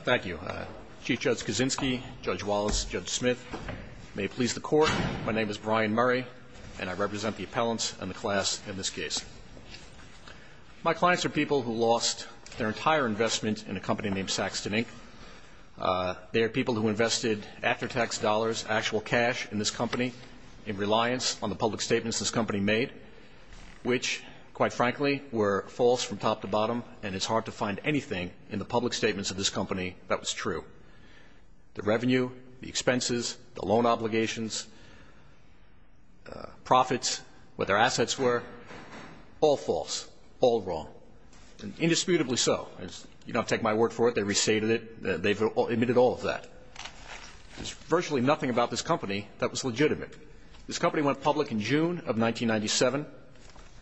Thank you. Chief Judge Kaczynski, Judge Wallace, Judge Smith, may it please the Court, my name is Brian Murray and I represent the appellants and the class in this case. My clients are people who lost their entire investment in a company named Saxton Inc. They are people who invested after-tax dollars, actual cash, in this company in reliance on the public statements this company made, which, quite frankly, were false from top to bottom and it's hard to find anything in the public statements of this company that was true. The revenue, the expenses, the loan obligations, profits, what their assets were, all false, all wrong, and indisputably so. You don't have to take my word for it, they restated it, they've admitted all of that. There's virtually nothing about this company that was legitimate. This company went public in June of 1997.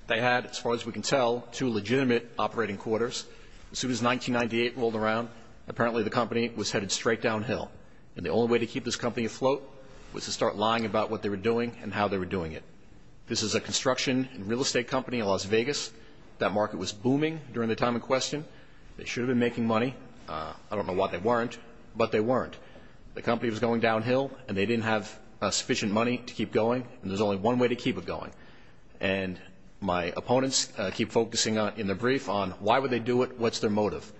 They had, as far as we can tell, two legitimate operating quarters. As soon as 1998 rolled around, apparently the company was headed straight downhill, and the only way to keep this company afloat was to start lying about what they were doing and how they were doing it. This is a construction and real estate company in Las Vegas. That market was booming during the time in question. They should have been making money. I don't know why they weren't, but they weren't. The company was going downhill, and they didn't have sufficient money to keep going, and there's only one way to keep it going. And my opponents keep focusing on, in their brief, on why would they do it, what's their motive.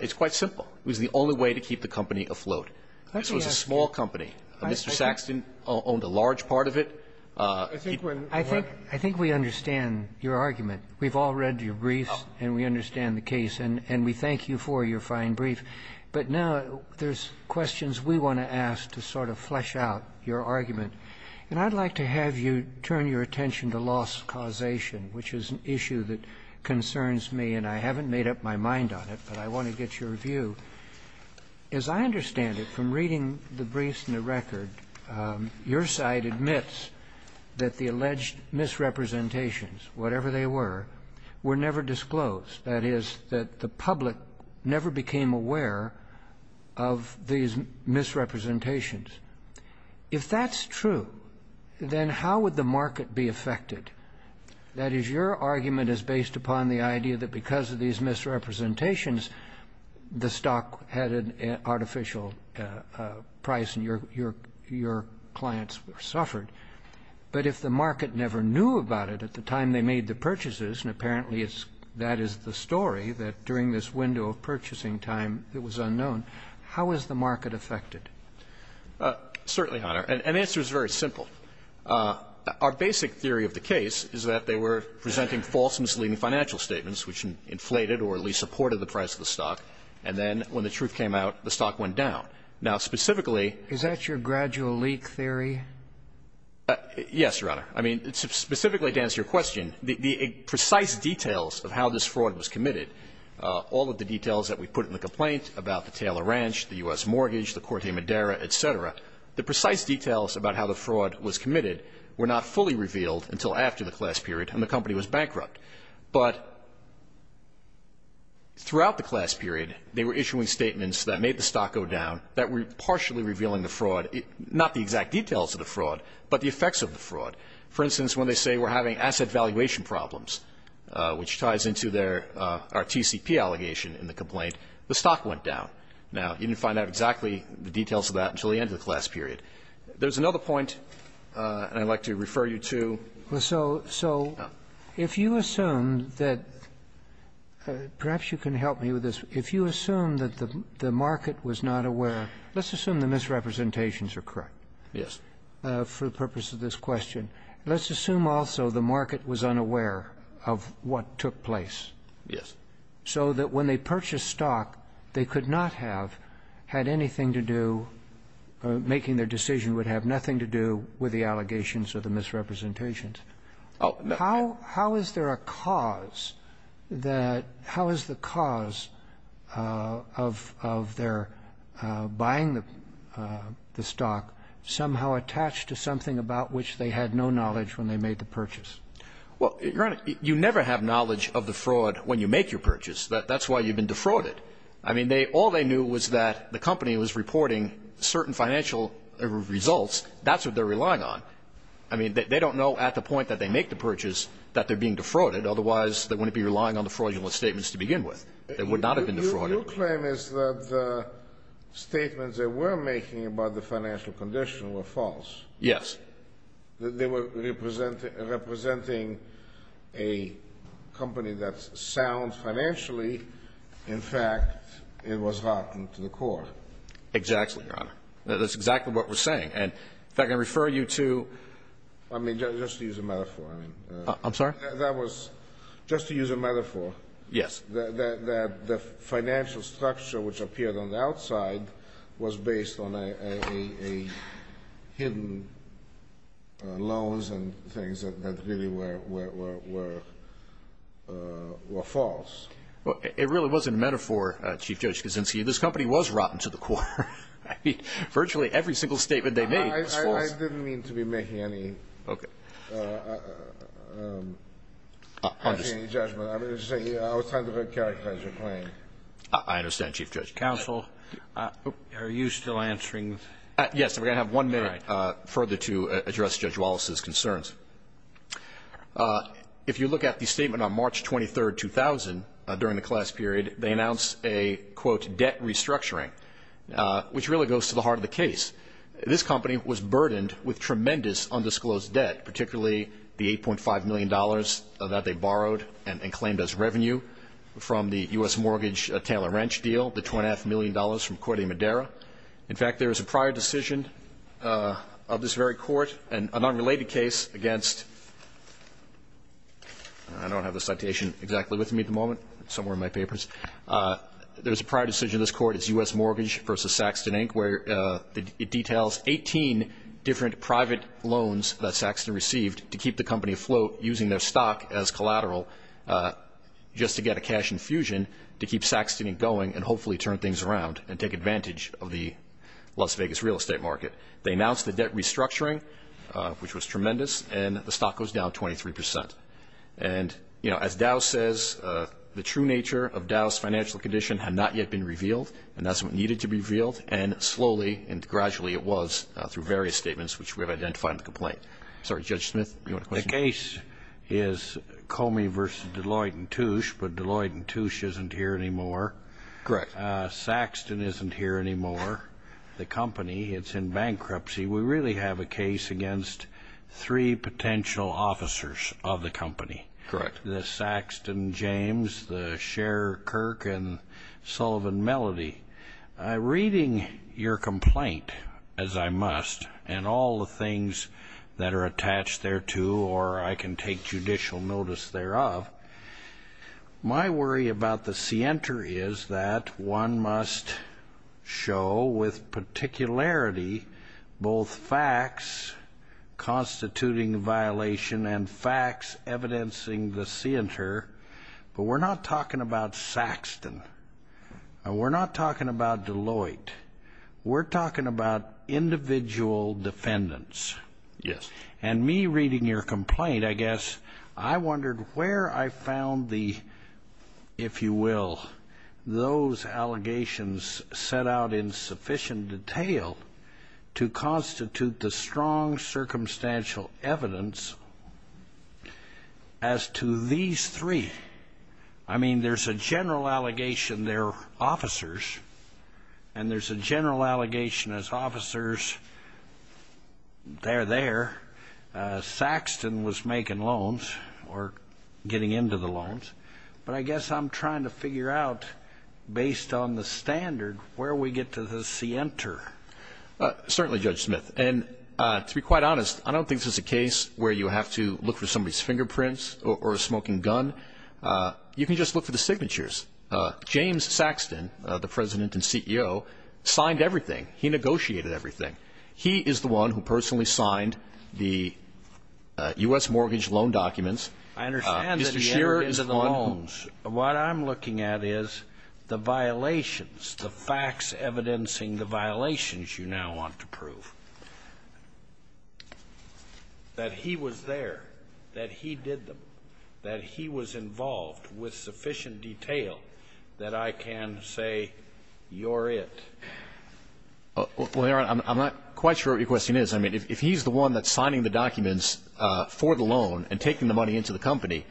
It's quite simple. It was the only way to keep the company afloat. This was a small company. Mr. Saxton owned a large part of it. I think we understand your argument. We've all read your briefs, and we understand the case, and we thank you for your fine brief. But now there's questions we want to ask to sort of flesh out your argument. And I'd like to have you turn your attention to loss causation, which is an issue that concerns me, and I haven't made up my mind on it, but I want to get your view. As I understand it, from reading the briefs and the record, your side admits that the alleged misrepresentations, whatever they were, were never disclosed. That is, that the public never became aware of these misrepresentations. If that's true, then how would the market be affected? That is, your argument is based upon the idea that because of these misrepresentations, the stock had an artificial price, and your clients suffered. But if the market never knew about it at the time they made the purchases, and apparently it's that is the story, that during this window of purchasing time it was unknown, how is the market affected? Certainly, Your Honor. And the answer is very simple. Our basic theory of the case is that they were presenting false misleading financial statements, which inflated or at least supported the price of the stock, and then when the truth came out, the stock went down. Now, specifically Is that your gradual leak theory? Yes, Your Honor. I mean, specifically to answer your question, the precise details of how this fraud was committed, all of the details that we put in the complaint about the Taylor Ranch, the U.S. mortgage, the Corte Madera, et cetera, the precise details about how the fraud was committed were not fully revealed until after the class period, and the company was bankrupt. But throughout the class period, they were issuing statements that made the stock go down, that were partially revealing the fraud, not the exact details of the fraud, but the effects of the fraud. For instance, when they say we're having asset valuation problems, which ties into their TCP allegation in the complaint, the stock went down. Now, you didn't find out exactly the details of that until the end of the class period. There's another point, and I'd like to refer you to the next slide. Well, so if you assume that perhaps you can help me with this. If you assume that the market was not aware, let's assume the misrepresentations are correct for the purpose of this question. Let's assume also the market was unaware of what took place so that when they purchased stock, they could not have had anything to do, making their decision would have nothing to do with the allegations or the of their buying the stock somehow attached to something about which they had no knowledge when they made the purchase. Well, Your Honor, you never have knowledge of the fraud when you make your purchase. That's why you've been defrauded. I mean, all they knew was that the company was reporting certain financial results. That's what they're relying on. I mean, they don't know at the point that they make the purchase that they're being defrauded. Otherwise, they wouldn't be relying on the fraudulent statements to begin with. They would not have been defrauded. Your claim is that the statements they were making about the financial condition were false. Yes. They were representing a company that sounds financially. In fact, it was rotten to the core. Exactly, Your Honor. That's exactly what we're saying. And in fact, I refer you to I mean, just to use a metaphor. I'm sorry? That was just to use a metaphor. Yes. That the financial structure which appeared on the outside was based on a hidden loans and things that really were false. It really was a metaphor, Chief Judge Kuczynski. This company was rotten to the core. I mean, virtually every single statement they made was false. I didn't mean to be making any judgment. I was trying to characterize your claim. I understand, Chief Judge. Counsel, are you still answering? Yes. We're going to have one minute further to address Judge Wallace's concerns. If you look at the statement on March 23, 2000, during the class period, they announced a, quote, debt restructuring, which really goes to the heart of the case. This company was burdened with tremendous undisclosed debt, particularly the $8.5 million that they borrowed and claimed as revenue from the U.S. mortgage Taylor-Wrench deal, the $2.5 million from Corte Madera. In fact, there was a prior decision of this very court, an unrelated case against I don't have the citation exactly with me at the moment, somewhere in my papers. There was a prior decision of this court, it's U.S. Mortgage v. Saxton, Inc., where it details 18 different private loans that Saxton received to keep the company afloat using their stock as collateral just to get a cash infusion to keep Saxton, Inc. going and hopefully turn things around and take advantage of the Las Vegas real estate market. They announced the debt restructuring, which was tremendous, and the stock goes down 23%. And as Dow says, the true nature of Dow's financial condition had not yet been revealed, and that's what needed to be revealed, and slowly and gradually it was through various statements which we have identified in the complaint. Sorry, Judge Smith, you want to question? The case is Comey v. Deloitte & Touche, but Deloitte & Touche isn't here anymore. Correct. Saxton isn't here anymore. The company, it's in bankruptcy. We really have a case against three potential officers of the company. Correct. The Saxton, James, the Sher, Kirk, and Sullivan, Melody. Reading your complaint, as I must, and all the things that are attached thereto, or I can take judicial notice thereof, my worry about the scienter is that one must show with particularity both facts constituting violation and facts evidencing the scienter, but we're not talking about Saxton. We're not talking about Deloitte. We're talking about individual defendants. Yes. And me reading your complaint, I guess, I wondered where I found the, if you will, those allegations set out in sufficient detail to constitute the strong circumstantial evidence as to these three. I mean, there's a general allegation they're officers, and there's a general allegation as officers, they're there. Saxton was making loans, or getting into the loans. But I guess I'm trying to figure out, based on the standard, where we get to the scienter. Certainly, Judge Smith. And to be quite honest, I don't think this is a case where you have to look for somebody's signature. You can just look for the signatures. James Saxton, the President and CEO, signed everything. He negotiated everything. He is the one who personally signed the U.S. mortgage loan documents. I understand that he entered into the loans. Mr. Shearer is the one who. What I'm looking at is the violations, the facts evidencing the violations you now want to prove. That he was there, that he did them, that he was involved with sufficient detail that I can say you're it. Well, Your Honor, I'm not quite sure what your question is. I mean, if he's the one that's signing the documents for the loan and taking the money into the company,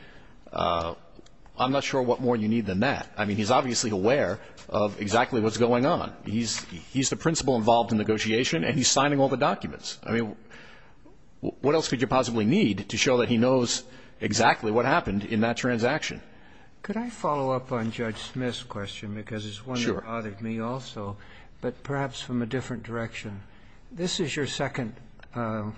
I'm not sure what more you need than that. I mean, he's obviously aware of exactly what's going on. He's the principal involved in negotiation and he's signing all the documents. I mean, what else could you possibly need to show that he knows exactly what happened in that transaction? Could I follow up on Judge Smith's question because it's one that bothered me also, but perhaps from a different direction? This is your second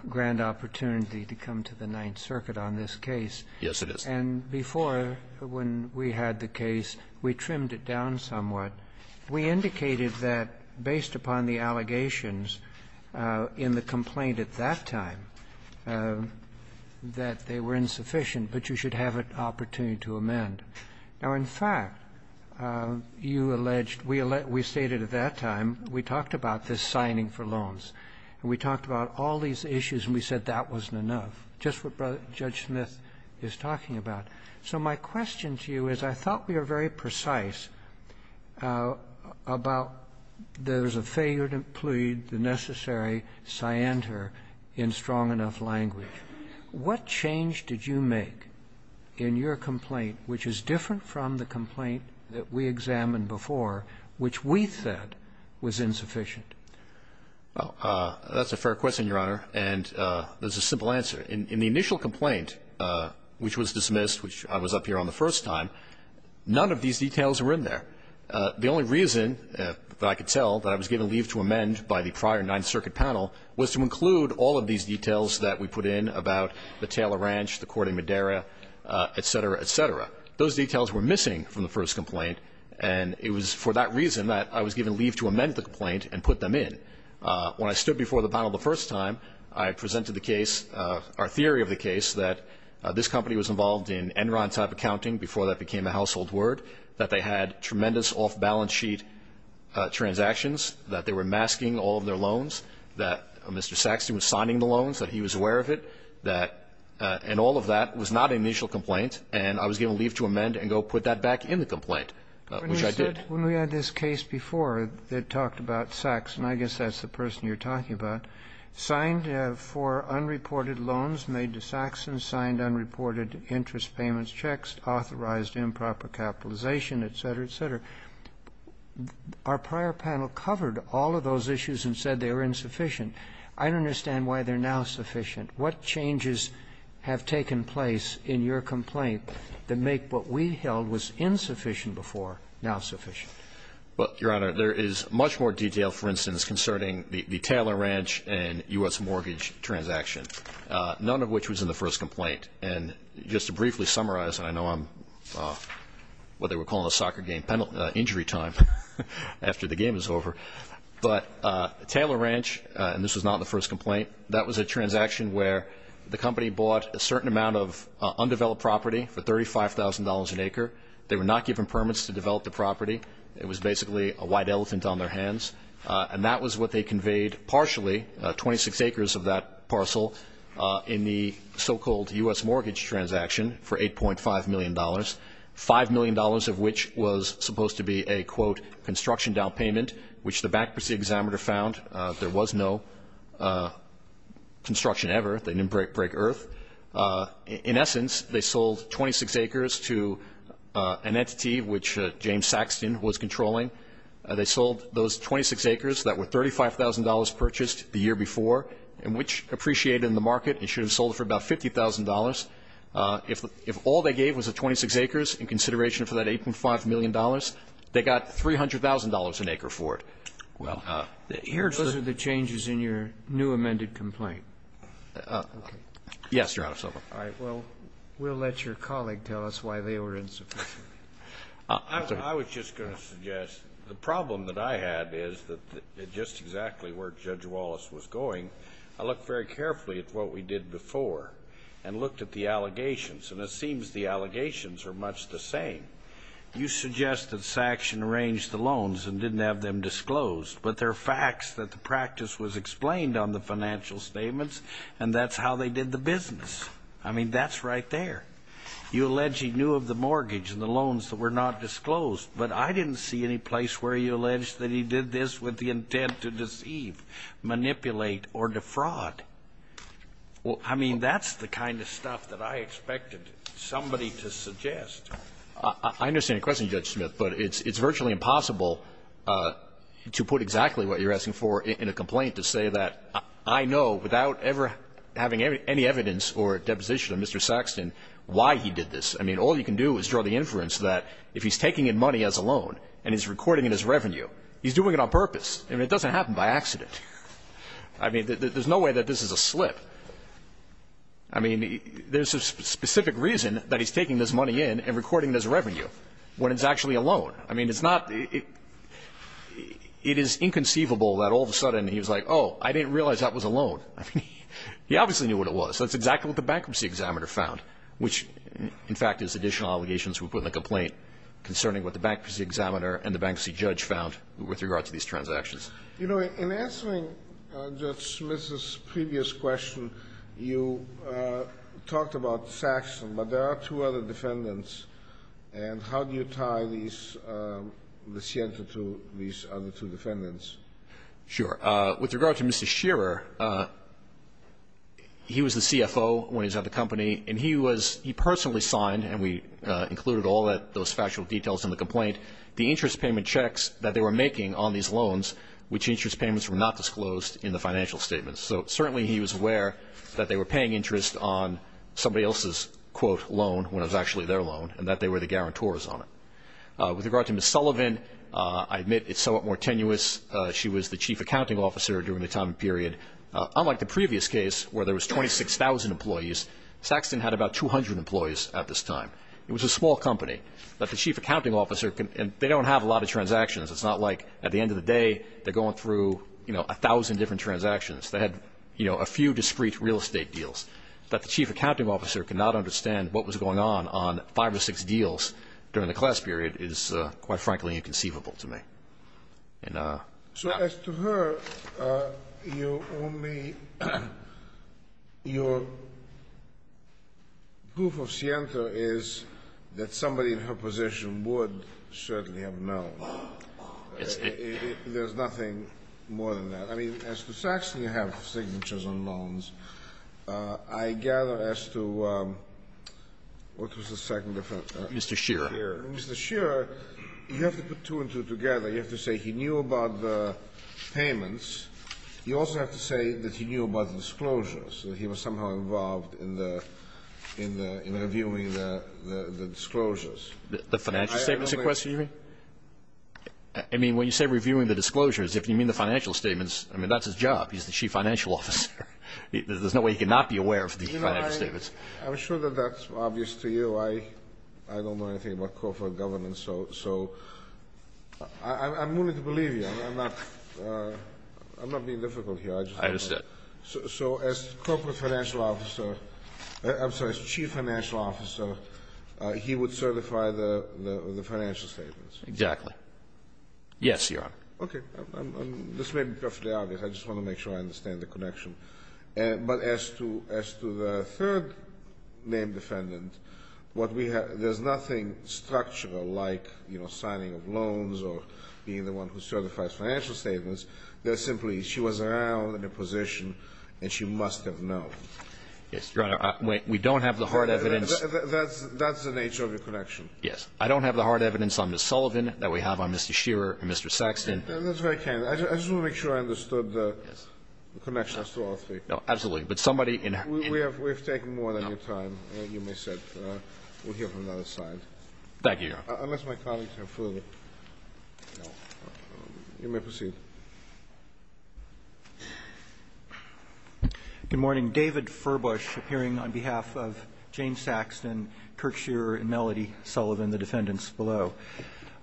grand opportunity to come to the Ninth Circuit on this case. Yes, it is. And before, when we had the case, we trimmed it down somewhat. We indicated that, based upon the allegations in the complaint at that time, that they were insufficient, but you should have an opportunity to amend. Now, in fact, you alleged, we stated at that time, we talked about this signing for loans, and we talked about all these issues and we said that wasn't enough, just what Judge Smith is talking about. So my question to you is I thought we were very precise about there's a failure to plead the necessary scienter in strong enough language. What change did you make in your complaint, which is different from the complaint that we examined before, which we said was insufficient? Well, that's a fair question, Your Honor, and there's a simple answer. In the initial complaint, which was dismissed, which I was up here on the first time, none of these details were in there. The only reason that I could tell that I was given leave to amend by the prior Ninth Circuit panel was to include all of these details that we put in about the Taylor Ranch, the court in Madera, et cetera, et cetera. Those details were missing from the first complaint, and it was for that reason that I was given leave to amend the complaint and put them in. When I stood before the panel the first time, I presented the case, our theory of the case, that this company was involved in Enron-type accounting before that became a household word, that they had tremendous off-balance sheet transactions, that they were masking all of their loans, that Mr. Saxton was signing the loans, that he was aware of it, and all of that was not an initial complaint, and I was given leave to amend and go put that back in the complaint, which I did. When we had this case before that talked about Saxton, I guess that's the person you're talking about, signed for unreported loans made to Saxton, signed unreported interest payments checks, authorized improper capitalization, et cetera, et cetera. Our prior panel covered all of those issues and said they were insufficient. I don't understand why they're now sufficient. What changes have taken place in your complaint that make what we held was insufficient before now sufficient? Well, Your Honor, there is much more detail, for instance, concerning the Taylor Ranch and U.S. mortgage transaction, none of which was in the first complaint. And just to briefly summarize, and I know I'm what they were calling a soccer game injury time after the game is over, but Taylor Ranch, and this was not in the first complaint, that was a transaction where the company bought a certain amount of undeveloped property for $35,000 an acre. They were not given permits to develop the property. It was basically a white elephant on their hands. And that was what they conveyed partially, 26 acres of that parcel, in the so-called U.S. mortgage transaction for $8.5 million, $5 million of which was supposed to be a, quote, construction down payment, which the bankruptcy examiner found. There was no construction ever. They didn't break earth. In essence, they sold 26 acres to an entity which James Saxton was controlling. They sold those 26 acres that were $35,000 purchased the year before and which appreciated in the market and should have sold for about $50,000. If all they gave was the 26 acres in consideration for that $8.5 million, they got $300,000 an acre for it. Those are the changes in your new amended complaint. Yes, Your Honor. All right. Well, we'll let your colleague tell us why they were insufficient. I was just going to suggest the problem that I had is that just exactly where Judge Wallace was going, I looked very carefully at what we did before and looked at the allegations. And it seems the allegations are much the same. You suggest that Saxton arranged the loans and didn't have them disclosed. But there are facts that the practice was explained on the financial statements and that's how they did the business. I mean, that's right there. You allege he knew of the mortgage and the loans that were not disclosed. But I didn't see any place where he alleged that he did this with the intent to deceive, manipulate, or defraud. I mean, that's the kind of stuff that I expected somebody to suggest. I understand your question, Judge Smith, but it's virtually impossible to put exactly what you're asking for in a complaint to say that I know without ever having any evidence or deposition of Mr. Saxton why he did this. I mean, all you can do is draw the inference that if he's taking in money as a loan and he's recording it as revenue, he's doing it on purpose. I mean, it doesn't happen by accident. I mean, there's no way that this is a slip. I mean, there's a specific reason that he's taking this money in and recording it as revenue when it's actually a loan. I mean, it's not the ñ it is inconceivable that all of a sudden he was like, oh, I didn't realize that was a loan. I mean, he obviously knew what it was. That's exactly what the Bankruptcy Examiner found, which, in fact, is additional allegations we put in the complaint concerning what the Bankruptcy Examiner and the Bankruptcy Judge found with regard to these transactions. You know, in answering Judge Smith's previous question, you talked about Saxton, but there are two other defendants. And how do you tie these ñ the Sienta to these other two defendants? Sure. With regard to Mr. Shearer, he was the CFO when he was at the company, and he was ñ he personally signed, and we included all those factual details in the complaint, the interest payment checks that they were making on these loans, which interest payments were not disclosed in the financial statements. So certainly he was aware that they were paying interest on somebody else's, quote, loan when it was actually their loan and that they were the guarantors on it. With regard to Ms. Sullivan, I admit it's somewhat more tenuous. She was the Chief Accounting Officer during the time period. Unlike the previous case where there was 26,000 employees, Saxton had about 200 employees at this time. It was a small company. But the Chief Accounting Officer ñ and they don't have a lot of transactions. It's not like at the end of the day they're going through, you know, 1,000 different transactions. They had, you know, a few discrete real estate deals. But the Chief Accounting Officer could not understand what was going on on five or six deals during the class period is, quite frankly, inconceivable to me. And, yeah. So as to her, you only ñ your proof of scienta is that somebody in her position would certainly have known. Yes. There's nothing more than that. I mean, as to Saxton, you have signatures on loans. I gather as to ñ what was the second defendant? Mr. Shearer. Mr. Shearer. Mr. Shearer, you have to put two and two together. You have to say he knew about the payments. You also have to say that he knew about the disclosures, that he was somehow involved in the ñ in reviewing the disclosures. The financial statements, you mean? I mean, when you say reviewing the disclosures, if you mean the financial statements, I mean, that's his job. He's the Chief Financial Officer. There's no way he could not be aware of the financial statements. I'm sure that that's obvious to you. I don't know anything about corporate governance, so I'm willing to believe you. I'm not being difficult here. I understand. So as Corporate Financial Officer ñ I'm sorry, as Chief Financial Officer, he would certify the financial statements? Exactly. Yes, Your Honor. Okay. This may be perfectly obvious. I just want to make sure I understand the connection. But as to the third named defendant, what we have ñ there's nothing structural like, you know, signing of loans or being the one who certifies financial statements. There's simply she was around in a position and she must have known. Yes, Your Honor. We don't have the hard evidence. That's the nature of your connection. Yes. I don't have the hard evidence on Ms. Sullivan that we have on Mr. Shearer and Mr. Saxton. That's very kind. I just want to make sure I understood the connection as to all three. No, absolutely. But somebody ñ We have taken more than your time. You may sit. We'll hear from the other side. Thank you, Your Honor. Unless my colleagues have further ñ you may proceed. Good morning. David Furbush, appearing on behalf of Jane Saxton, Kirk Shearer, and Melody Sullivan, the defendants below.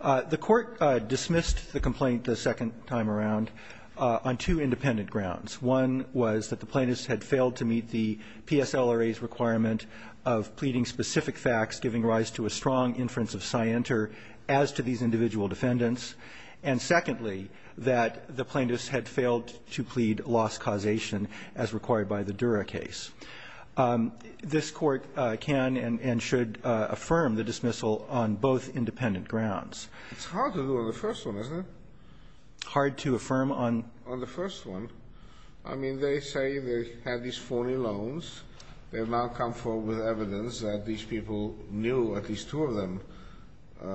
The Court dismissed the complaint the second time around on two independent grounds. One was that the plaintiffs had failed to meet the PSLRA's requirement of pleading specific facts giving rise to a strong inference of scienter as to these individual defendants, and secondly, that the plaintiffs had failed to plead loss causation as required by the Dura case. It's hard to do on the first one, isn't it? Hard to affirm on ñ On the first one. I mean, they say they had these phony loans. They have now come forward with evidence that these people knew, at least two of them,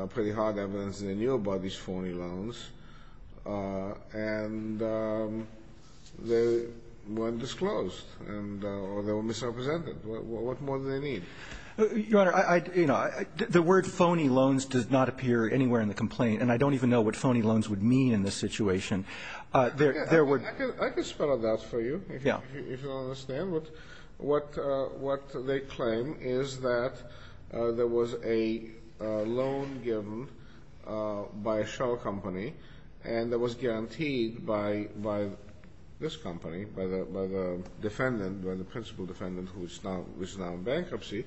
pretty hard evidence they knew about these phony loans, and they weren't disclosed and ñ or they were misrepresented. What more do they need? Your Honor, I ñ you know, the word phony loans does not appear anywhere in the complaint, and I don't even know what phony loans would mean in this situation. There would ñ I can spell it out for you. Yeah. If you don't understand. What they claim is that there was a loan given by a shell company and that was guaranteed by this company, by the defendant, by the principal defendant who is now in bankruptcy,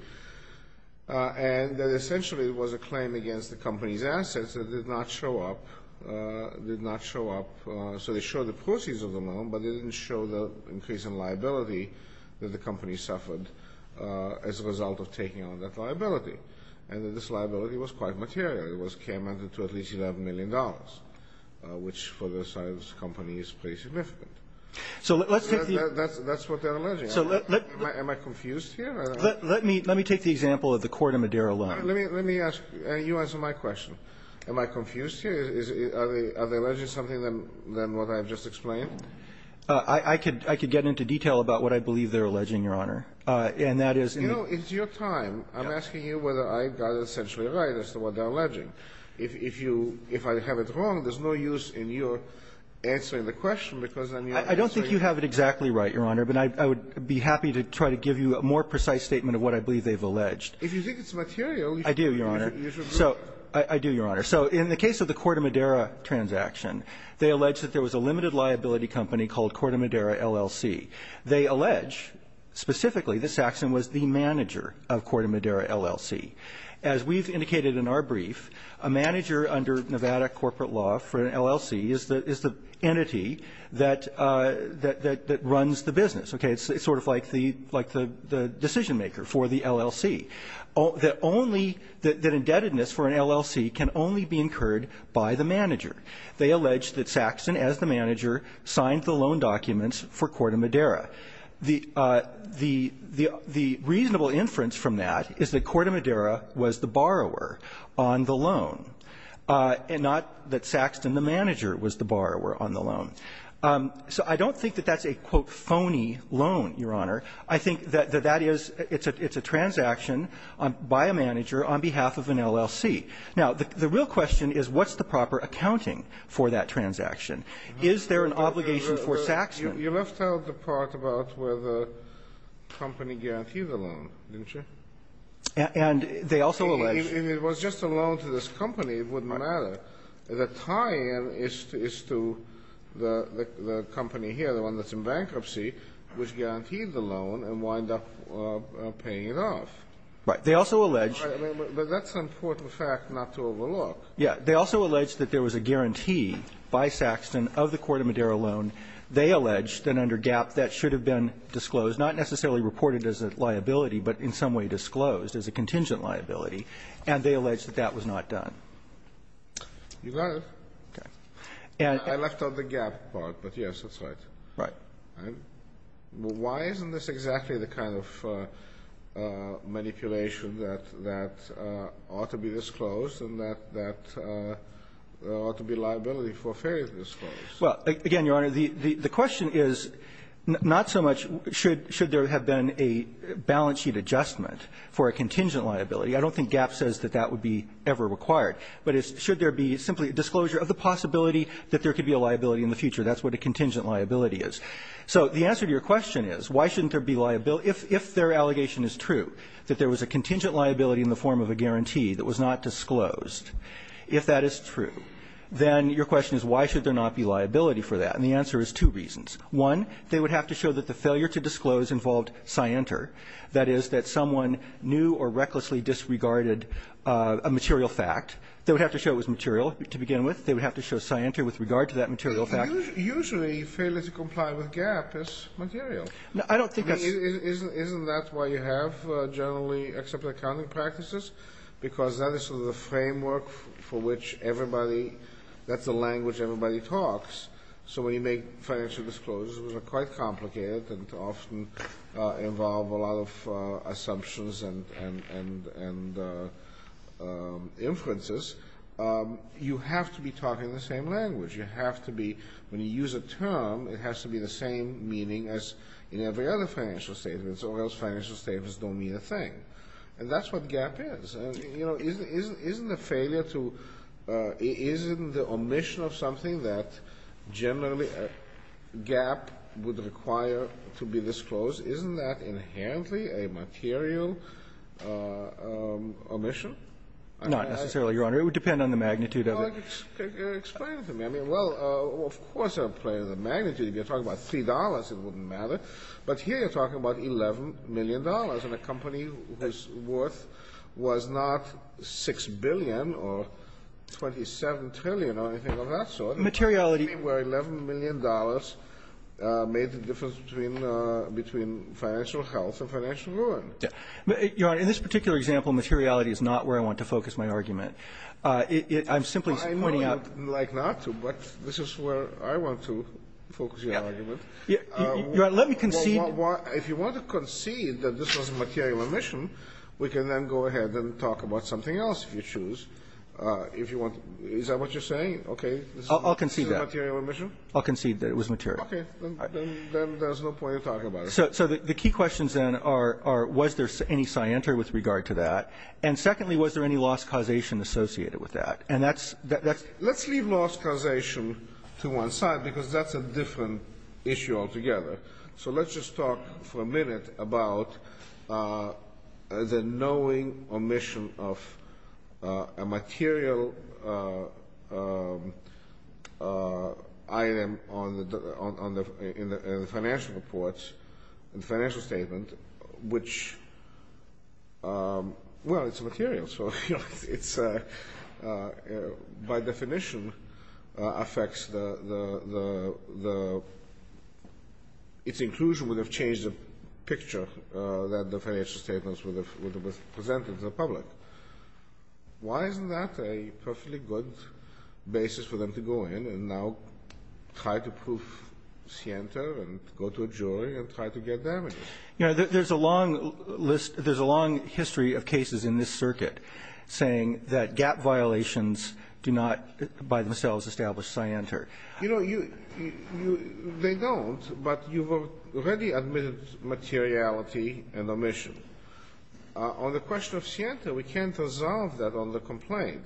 and that essentially it was a claim against the company's assets that did not show up, did not show up. So they show the proceeds of the loan, but they didn't show the increase in liability that the company suffered as a result of taking on that liability, and that this liability was quite material. It came under to at least $11 million, which for the size of the company is pretty significant. So let's take the ñ That's what they're alleging. So let ñ Am I confused here? Let me take the example of the court in Madera Loan. Let me ask ñ you answer my question. Am I confused here? Are they alleging something other than what I've just explained? I could get into detail about what I believe they're alleging, Your Honor. And that is ñ You know, it's your time. I'm asking you whether I got it essentially right as to what they're alleging. If you ñ if I have it wrong, there's no use in your answering the question because then you're ñ I don't think you have it exactly right, Your Honor. But I would be happy to try to give you a more precise statement of what I believe they've alleged. If you think it's material, you should look at the usual group. I do, Your Honor. I do, Your Honor. So in the case of the court in Madera transaction, they allege that there was a limited liability company called Corte Madera LLC. They allege specifically that Saxon was the manager of Corte Madera LLC. The LLC is the entity that runs the business. Okay. It's sort of like the decision-maker for the LLC. The only ñ that indebtedness for an LLC can only be incurred by the manager. They allege that Saxon, as the manager, signed the loan documents for Corte Madera. The reasonable inference from that is that Corte Madera was the borrower on the loan and not that Saxon, the manager, was the borrower on the loan. So I don't think that that's a, quote, phony loan, Your Honor. I think that that is ñ it's a transaction by a manager on behalf of an LLC. Now, the real question is what's the proper accounting for that transaction? Is there an obligation for Saxon? You left out the part about whether the company guaranteed the loan, didn't you? And they also allege ñ If it was just a loan to this company, it wouldn't matter. The tie-in is to the company here, the one that's in bankruptcy, which guaranteed the loan and wind up paying it off. Right. They also allege ñ But that's an important fact not to overlook. Yeah. They also allege that there was a guarantee by Saxon of the Corte Madera loan. They allege that under GAP that should have been disclosed, not necessarily reported as a liability, but in some way disclosed as a contingent liability. And they allege that that was not done. You got it. Okay. I left out the GAP part, but yes, that's right. Right. Why isn't this exactly the kind of manipulation that ought to be disclosed and that ought to be liability for failure to disclose? Well, again, Your Honor, the question is not so much should there have been a balance sheet adjustment for a contingent liability. I don't think GAP says that that would be ever required. But it's should there be simply a disclosure of the possibility that there could be a liability in the future. That's what a contingent liability is. So the answer to your question is why shouldn't there be ñ if their allegation is true, that there was a contingent liability in the form of a guarantee that was not disclosed, if that is true, then your question is why should there not be liability for that? And the answer is two reasons. One, they would have to show that the failure to disclose involved scienter. That is, that someone knew or recklessly disregarded a material fact. They would have to show it was material to begin with. They would have to show scienter with regard to that material fact. Usually failure to comply with GAP is material. I don't think that's ñ Isn't that why you have generally accepted accounting practices? Because that is sort of the framework for which everybody ñ that's the language everybody talks. So when you make financial disclosures, which are quite complicated and often involve a lot of assumptions and inferences, you have to be talking the same language. You have to be ñ when you use a term, it has to be the same meaning as in every other financial statements, or else financial statements don't mean a thing. And that's what GAP is. And, you know, isn't the failure to ñ isn't the omission of something that generally GAP would require to be disclosed, isn't that inherently a material omission? Not necessarily, Your Honor. It would depend on the magnitude of it. Well, explain it to me. I mean, well, of course I'm playing the magnitude. If you're talking about $3, it wouldn't matter. But here you're talking about $11 million in a company whose worth was not $6 billion or $27 trillion or anything of that sort. Materiality ñ Where $11 million made the difference between financial health and financial ruin. Your Honor, in this particular example, materiality is not where I want to focus my argument. I'm simply pointing out ñ I know you'd like not to, but this is where I want to focus your argument. Your Honor, let me concede ñ Well, if you want to concede that this was a material omission, we can then go ahead and talk about something else if you choose. If you want ñ is that what you're saying? Okay. I'll concede that. This is a material omission? I'll concede that it was material. Okay. Then there's no point in talking about it. So the key questions then are, was there any scienter with regard to that? And secondly, was there any loss causation associated with that? And that's ñ Let's leave loss causation to one side because that's a different issue altogether. So let's just talk for a minute about the knowing omission of a material item in the financial reports, the financial statement, which ñ well, it's material, so it's ñ by definition affects the ñ its inclusion would have changed the picture that the financial statements would have presented to the public. Why isn't that a perfectly good basis for them to go in and now try to prove scienter and go to a jury and try to get damages? You know, there's a long list ñ there's a long history of cases in this circuit saying that GAP violations do not by themselves establish scienter. You know, you ñ they don't, but you've already admitted materiality and omission. On the question of scienter, we can't resolve that on the complaint.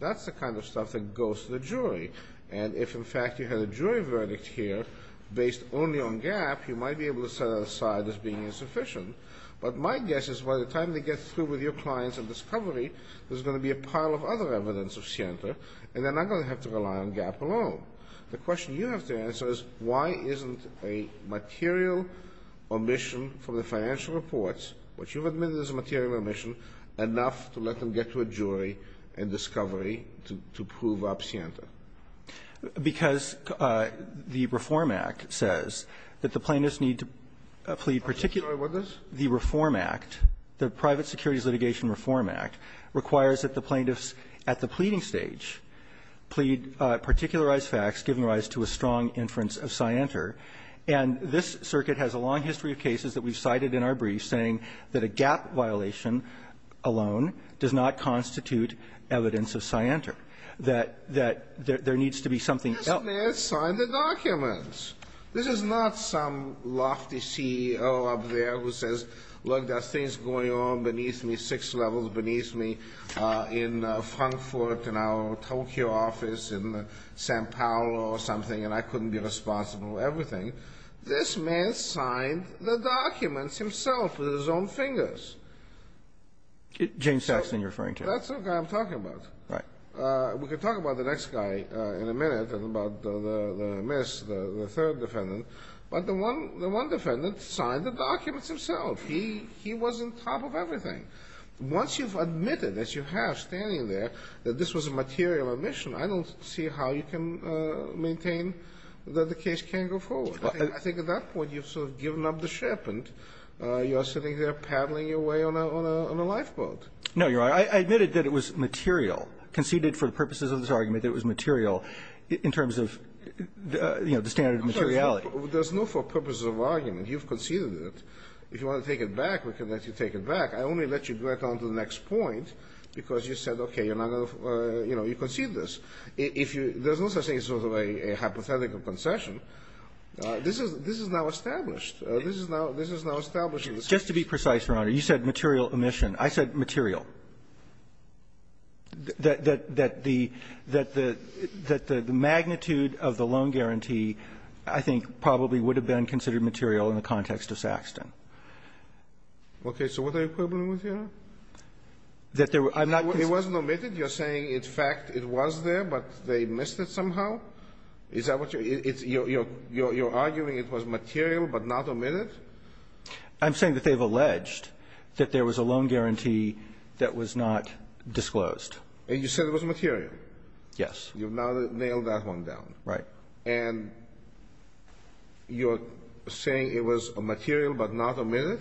That's the kind of stuff that goes to the jury. And if, in fact, you had a jury verdict here based only on GAP, you might be able to set it aside as being insufficient. But my guess is by the time they get through with your clients and discovery, there's going to be a pile of other evidence of scienter, and they're not going to have to rely on GAP alone. The question you have to answer is why isn't a material omission from the financial reports, which you've admitted is a material omission, enough to let them get to a jury and discovery to prove up scienter? Because the Reform Act says that the plaintiffs need to plead particular with this. The Reform Act, the Private Securities Litigation Reform Act, requires that the plaintiffs at the pleading stage plead particularized facts, giving rise to a strong inference of scienter. And this circuit has a long history of cases that we've cited in our briefs saying that a GAP violation alone does not constitute evidence of scienter, that ñ that there needs to be something else. This man signed the documents. This is not some lofty CEO up there who says, look, there's things going on beneath me, six levels beneath me, in Frankfurt, in our Tokyo office, in San Paolo or something, and I couldn't be responsible for everything. This man signed the documents himself with his own fingers. James Saxton you're referring to. That's the guy I'm talking about. Right. We can talk about the next guy in a minute and about the miss, the third defendant. But the one defendant signed the documents himself. He was on top of everything. Once you've admitted, as you have standing there, that this was a material admission, I don't see how you can maintain that the case can't go forward. I think at that point you've sort of given up the ship and you're sitting there paddling your way on a lifeboat. No, you're right. I admitted that it was material, conceded for the purposes of this argument that it was material in terms of, you know, the standard of materiality. There's no for purposes of argument. You've conceded it. If you want to take it back, we can let you take it back. I only let you go right on to the next point because you said, okay, you're not going to, you know, you conceded this. If you – there's no such thing as sort of a hypothetical concession. This is now established. This is now established in this case. Just to be precise, Your Honor, you said material admission. I said material. That the magnitude of the loan guarantee, I think, probably would have been considered material in the context of Saxton. Okay. So what are you quibbling with here? That there were – I'm not – It wasn't omitted? You're saying, in fact, it was there, but they missed it somehow? I'm saying that they've alleged that there was a loan guarantee that was not disclosed. And you said it was material? Yes. You've now nailed that one down. Right. And you're saying it was material but not omitted?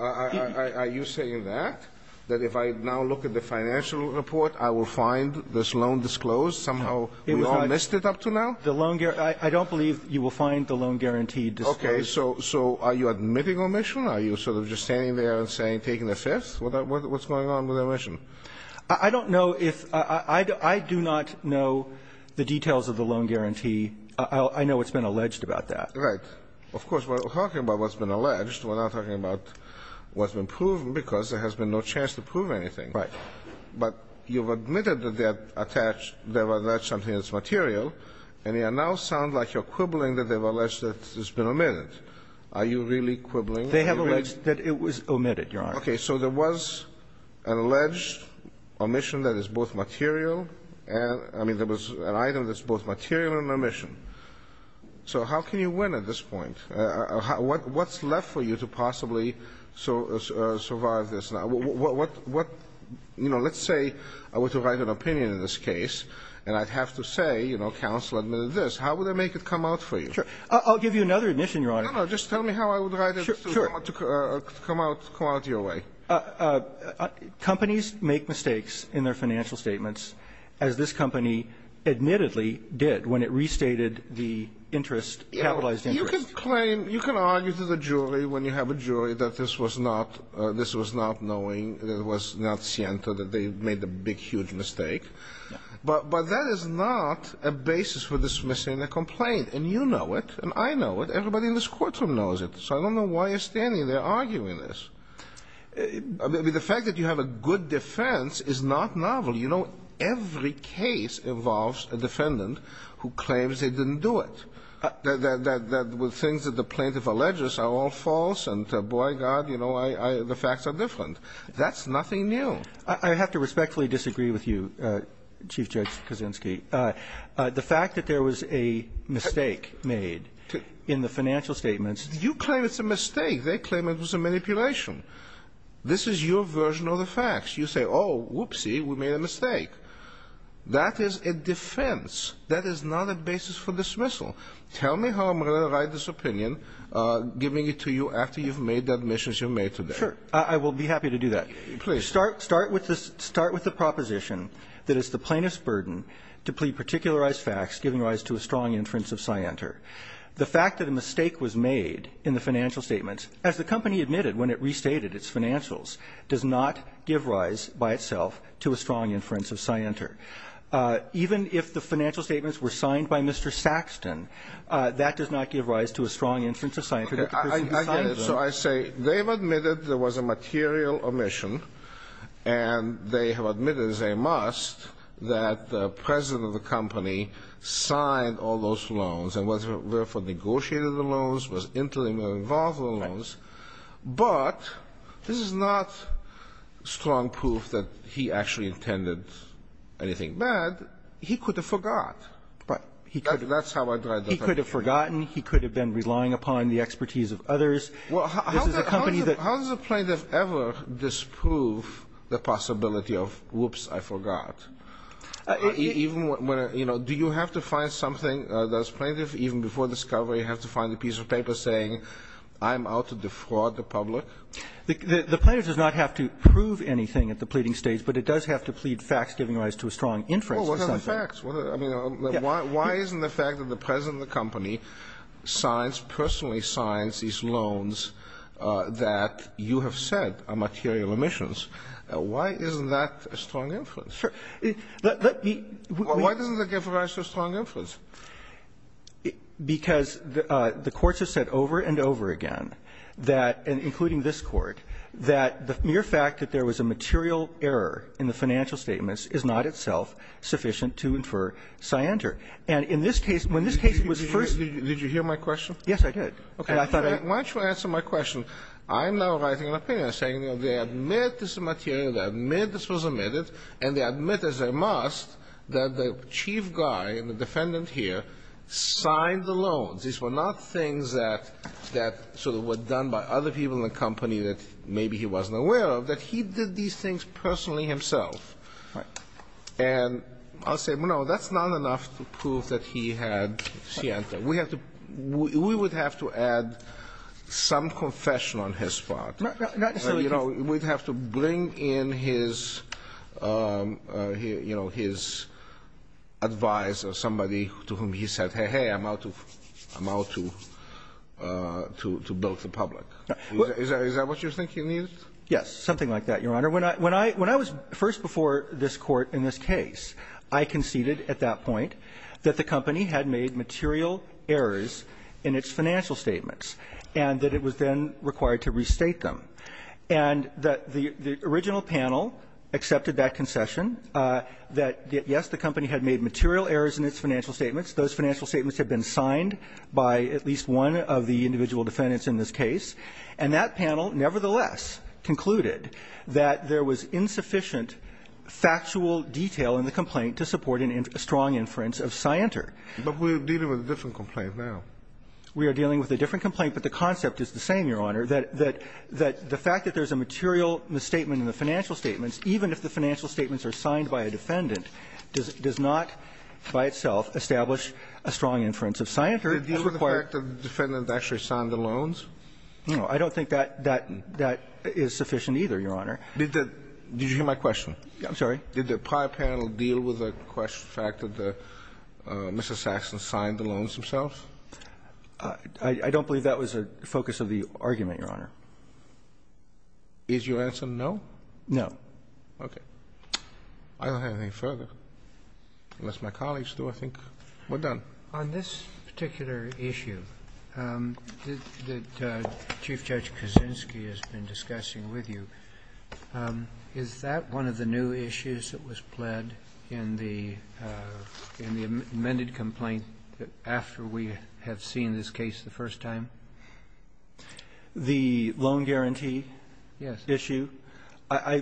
Are you saying that? That if I now look at the financial report, I will find this loan disclosed somehow? We all missed it up to now? The loan – I don't believe you will find the loan guarantee disclosed. Okay. So are you admitting omission? Are you sort of just standing there and saying, taking the fifth? What's going on with the omission? I don't know if – I do not know the details of the loan guarantee. I know what's been alleged about that. Right. Of course, we're talking about what's been alleged. We're not talking about what's been proven, because there has been no chance to prove anything. Right. But you've admitted that they have attached – they have alleged something that's are you really quibbling? They have alleged that it was omitted, Your Honor. Okay. So there was an alleged omission that is both material and – I mean, there was an item that's both material and omission. So how can you win at this point? What's left for you to possibly survive this? What – you know, let's say I were to write an opinion in this case, and I'd have to say, you know, counsel admitted this. How would I make it come out for you? Sure. I'll give you another admission, Your Honor. No, no. Just tell me how I would write it. Sure. To come out your way. Companies make mistakes in their financial statements, as this company admittedly did when it restated the interest – capitalized interest. Yeah. You can claim – you can argue to the jury when you have a jury that this was not – this was not knowing, that it was not sciento, that they made a big, huge mistake. Yeah. But that is not a basis for dismissing a complaint. And you know it. And I know it. Everybody in this courtroom knows it. So I don't know why you're standing there arguing this. I mean, the fact that you have a good defense is not novel. You know, every case involves a defendant who claims they didn't do it, that the things that the plaintiff alleges are all false, and boy, God, you know, the facts are different. That's nothing new. I have to respectfully disagree with you, Chief Judge Kaczynski. The fact that there was a mistake made in the financial statements – You claim it's a mistake. They claim it was a manipulation. This is your version of the facts. You say, oh, whoopsie, we made a mistake. That is a defense. That is not a basis for dismissal. Tell me how I'm going to write this opinion, giving it to you after you've made the admissions you've made today. Sure. I will be happy to do that. Please. Start with the proposition that it's the plaintiff's burden to plead particularized facts giving rise to a strong inference of scienter. The fact that a mistake was made in the financial statements, as the company admitted when it restated its financials, does not give rise by itself to a strong inference of scienter. Even if the financial statements were signed by Mr. Saxton, that does not give rise to a strong inference of scienter that the person who signed them – And they have admitted as a must that the president of the company signed all those loans and was – therefore negotiated the loans, was intimately involved with the loans. Right. But this is not strong proof that he actually intended anything bad. He could have forgot. Right. He could have. That's how I drive that argument. He could have forgotten. He could have been relying upon the expertise of others. This is a company that – So how does a plaintiff ever disprove the possibility of, whoops, I forgot? Even when – you know, do you have to find something – does plaintiff, even before discovery, have to find a piece of paper saying, I'm out to defraud the public? The plaintiff does not have to prove anything at the pleading stage, but it does have to plead facts giving rise to a strong inference of something. Well, what are the facts? I mean, why isn't the fact that the president of the company signs – personally signs these loans that you have said are material emissions, why isn't that a strong inference? Sure. Let me – Why doesn't that give rise to a strong inference? Because the courts have said over and over again that – including this Court – that the mere fact that there was a material error in the financial statements is not itself sufficient to infer scienter. And in this case – when this case was first – Did you hear my question? Okay. Why don't you answer my question? I'm now writing an opinion saying, you know, they admit this is material, they admit this was emitted, and they admit as they must that the chief guy, the defendant here, signed the loans. These were not things that – that sort of were done by other people in the company that maybe he wasn't aware of, that he did these things personally himself. And I'll say, no, that's not enough to prove that he had scienter. We have to – we would have to add some confession on his part. Not necessarily. You know, we'd have to bring in his, you know, his advisor, somebody to whom he said, hey, hey, I'm out to – I'm out to build the public. Is that what you think he needed? Yes, something like that, Your Honor. When I – when I was first before this Court in this case, I conceded at that point that the company had made material errors in its financial statements, and that it was then required to restate them, and that the original panel accepted that concession, that, yes, the company had made material errors in its financial statements, those financial statements had been signed by at least one of the individual defendants in this case, and that panel nevertheless concluded that there was insufficient factual detail in the complaint to support a strong inference of scienter. But we're dealing with a different complaint now. We are dealing with a different complaint, but the concept is the same, Your Honor, that the fact that there's a material misstatement in the financial statements, even if the financial statements are signed by a defendant, does not by itself establish a strong inference of scienter. Did it deal with the fact that the defendant actually signed the loans? No. I don't think that that is sufficient either, Your Honor. Did the – did you hear my question? I'm sorry. Did the prior panel deal with the fact that Mr. Saxon signed the loans himself? I don't believe that was the focus of the argument, Your Honor. Is your answer no? No. Okay. I don't have anything further, unless my colleagues do, I think. We're done. On this particular issue that Chief Judge Kaczynski has been discussing with you, is that one of the new issues that was pled in the amended complaint after we have seen this case the first time? The loan guarantee issue? Yes.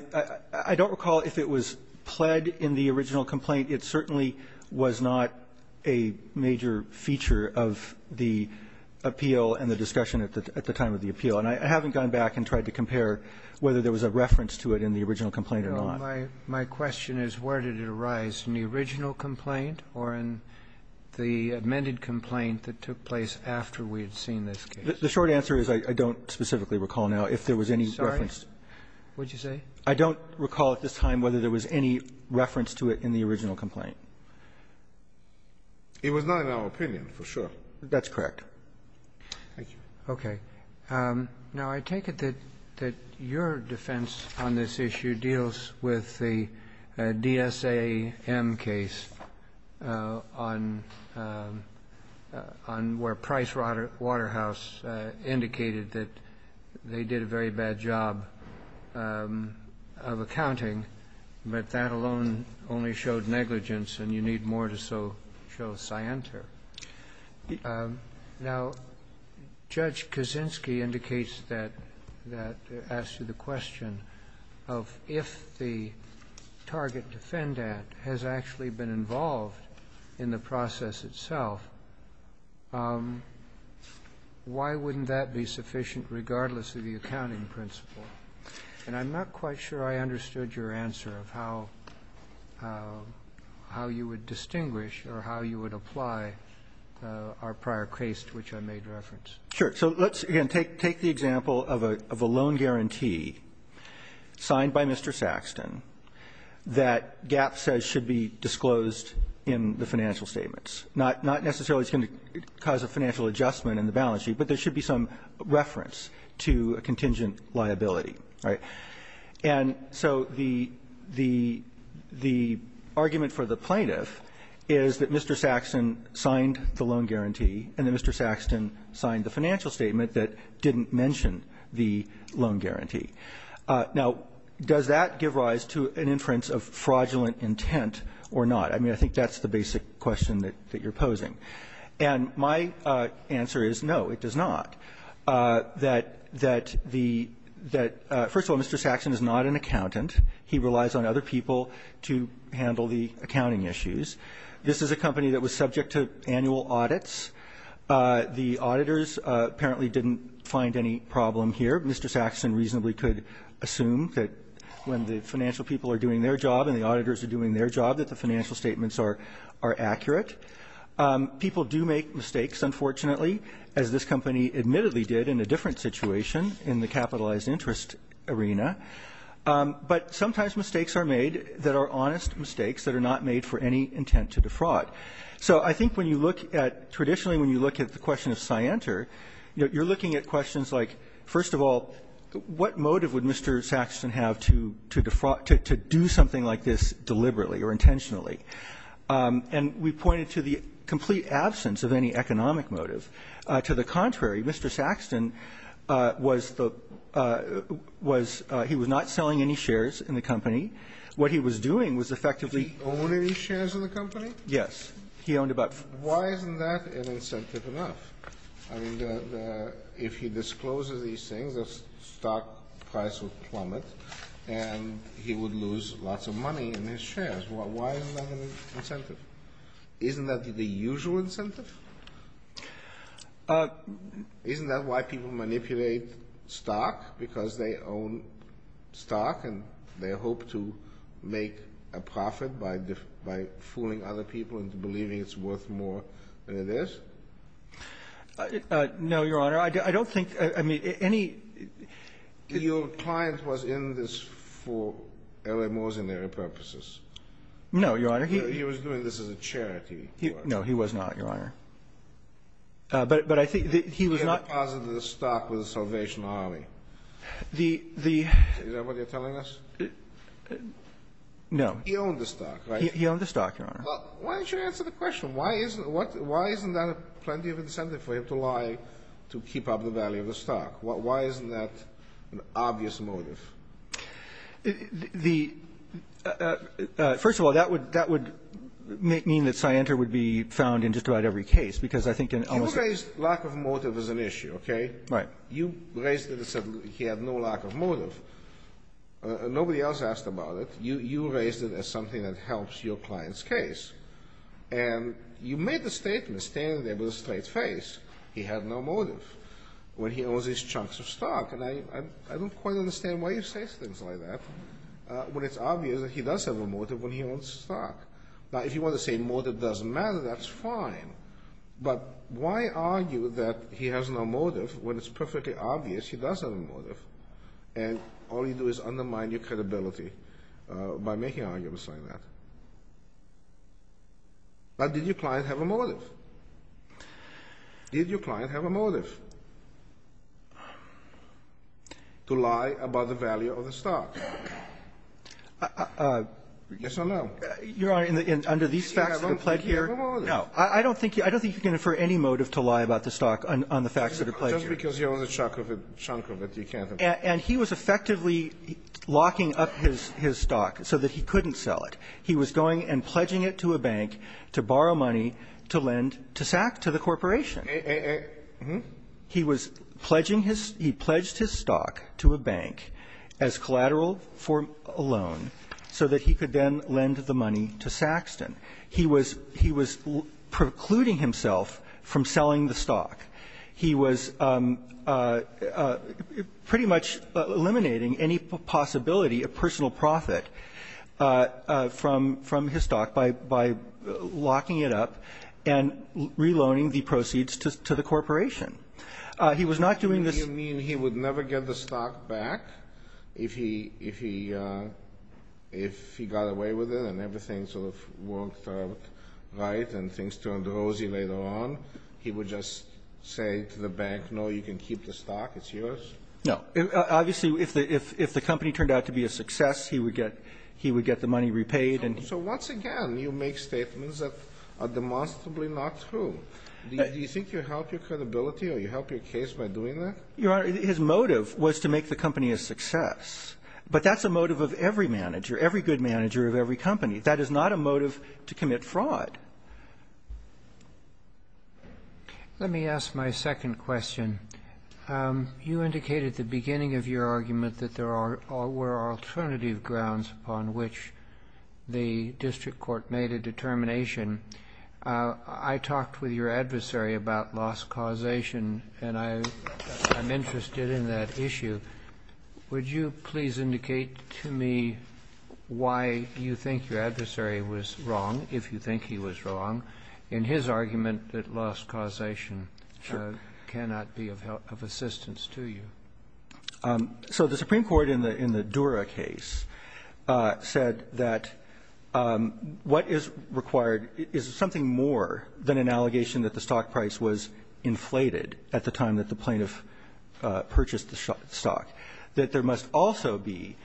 I don't recall if it was pled in the original complaint. It certainly was not a major feature of the appeal and the discussion at the time of the appeal. And I haven't gone back and tried to compare whether there was a reference to it in the original complaint or not. My question is where did it arise, in the original complaint or in the amended complaint that took place after we had seen this case? The short answer is I don't specifically recall now if there was any reference. Sorry? What did you say? I don't recall at this time whether there was any reference to it in the original complaint. It was not in our opinion, for sure. That's correct. Thank you. Okay. Now, I take it that your defense on this issue deals with the DSAM case on where Price Waterhouse indicated that they did a very bad job of accounting, but that alone only showed negligence and you need more to show scienter. Now, Judge Kaczynski indicates that, asked you the question of if the target has actually been involved in the process itself, why wouldn't that be sufficient regardless of the accounting principle? And I'm not quite sure I understood your answer of how you would distinguish or how you would apply our prior case to which I made reference. Sure. So let's, again, take the example of a loan guarantee signed by Mr. Saxton that Gap says should be disclosed in the financial statements. Not necessarily it's going to cause a financial adjustment in the balance sheet, but there should be some reference to a contingent liability, right? And so the argument for the plaintiff is that Mr. Saxton signed the loan guarantee and that Mr. Saxton signed the financial statement that didn't mention the loan guarantee. Now, does that give rise to an inference of fraudulent intent or not? I mean, I think that's the basic question that you're posing. And my answer is no, it does not. That the – first of all, Mr. Saxton is not an accountant. He relies on other people to handle the accounting issues. This is a company that was subject to annual audits. The auditors apparently didn't find any problem here. Mr. Saxton reasonably could assume that when the financial people are doing their job and the auditors are doing their job that the financial statements are accurate. People do make mistakes, unfortunately, as this company admittedly did in a different situation in the capitalized interest arena. But sometimes mistakes are made that are honest mistakes that are not made for any intent to defraud. So I think when you look at – traditionally when you look at the question of Scienter, you're looking at questions like, first of all, what motive would Mr. Saxton have to defraud – to do something like this deliberately or intentionally? And we pointed to the complete absence of any economic motive. To the contrary, Mr. Saxton was the – was – he was not selling any shares in the company. What he was doing was effectively – Did he own any shares in the company? Yes. He owned about – Why isn't that an incentive enough? I mean, the – if he discloses these things, the stock price would plummet and he would lose lots of money in his shares. Why isn't that an incentive? Isn't that the usual incentive? Isn't that why people manipulate stock? Because they own stock and they hope to make a profit by fooling other people into believing it's worth more than it is? No, Your Honor. I don't think – I mean, any – Your client was in this for airway mortionary purposes. No, Your Honor. He was doing this as a charity. No, he was not, Your Honor. But I think that he was not – He had deposited the stock with the Salvation Army. The – Is that what you're telling us? No. He owned the stock, right? He owned the stock, Your Honor. Well, why don't you answer the question? Why isn't – what – why isn't that plenty of incentive for him to lie to keep up the value of the stock? Why isn't that an obvious motive? The – first of all, that would – that would mean that Scienter would be found in just about every case, because I think in – You raised lack of motive as an issue, okay? Right. You raised it and said he had no lack of motive. Nobody else asked about it. You raised it as something that helps your client's case. And you made the statement, standing there with a straight face, he had no motive, when he owns these chunks of stock. And I don't quite understand why you say things like that when it's obvious that he does have a motive when he owns the stock. Now, if you want to say motive doesn't matter, that's fine. But why argue that he has no motive when it's perfectly obvious he does have a motive, and all you do is undermine your credibility by making arguments like that? Now, did your client have a motive? Did your client have a motive to lie about the value of the stock? Yes or no? Your Honor, in the – under these facts that are pled here – Yes, I don't think he had a motive. No. I don't think – I don't think you can infer any motive to lie about the stock on the facts that are pled here. Well, because you own a chunk of it, you can't have a motive. And he was effectively locking up his stock so that he couldn't sell it. He was going and pledging it to a bank to borrow money to lend to the corporation. He was pledging his – he pledged his stock to a bank as collateral for a loan so that he could then lend the money to Saxton. He was precluding himself from selling the stock. He was pretty much eliminating any possibility of personal profit from his stock by locking it up and reloaning the proceeds to the corporation. He was not doing this – Do you mean he would never get the stock back if he got away with it and everything sort of worked out right and things turned rosy later on? He would just say to the bank, no, you can keep the stock, it's yours? No. Obviously, if the company turned out to be a success, he would get – he would get the money repaid. So once again, you make statements that are demonstrably not true. Do you think you help your credibility or you help your case by doing that? Your Honor, his motive was to make the company a success. But that's a motive of every manager, every good manager of every company. That is not a motive to commit fraud. Let me ask my second question. You indicated at the beginning of your argument that there were alternative grounds upon which the district court made a determination. I talked with your adversary about loss causation, and I'm interested in that issue. Would you please indicate to me why you think your adversary was wrong, if you think he was wrong, in his argument that loss causation cannot be of assistance to you? So the Supreme Court in the Dura case said that what is required is something more than an allegation that the stock price was inflated at the time that the plaintiff purchased the stock, that there must also be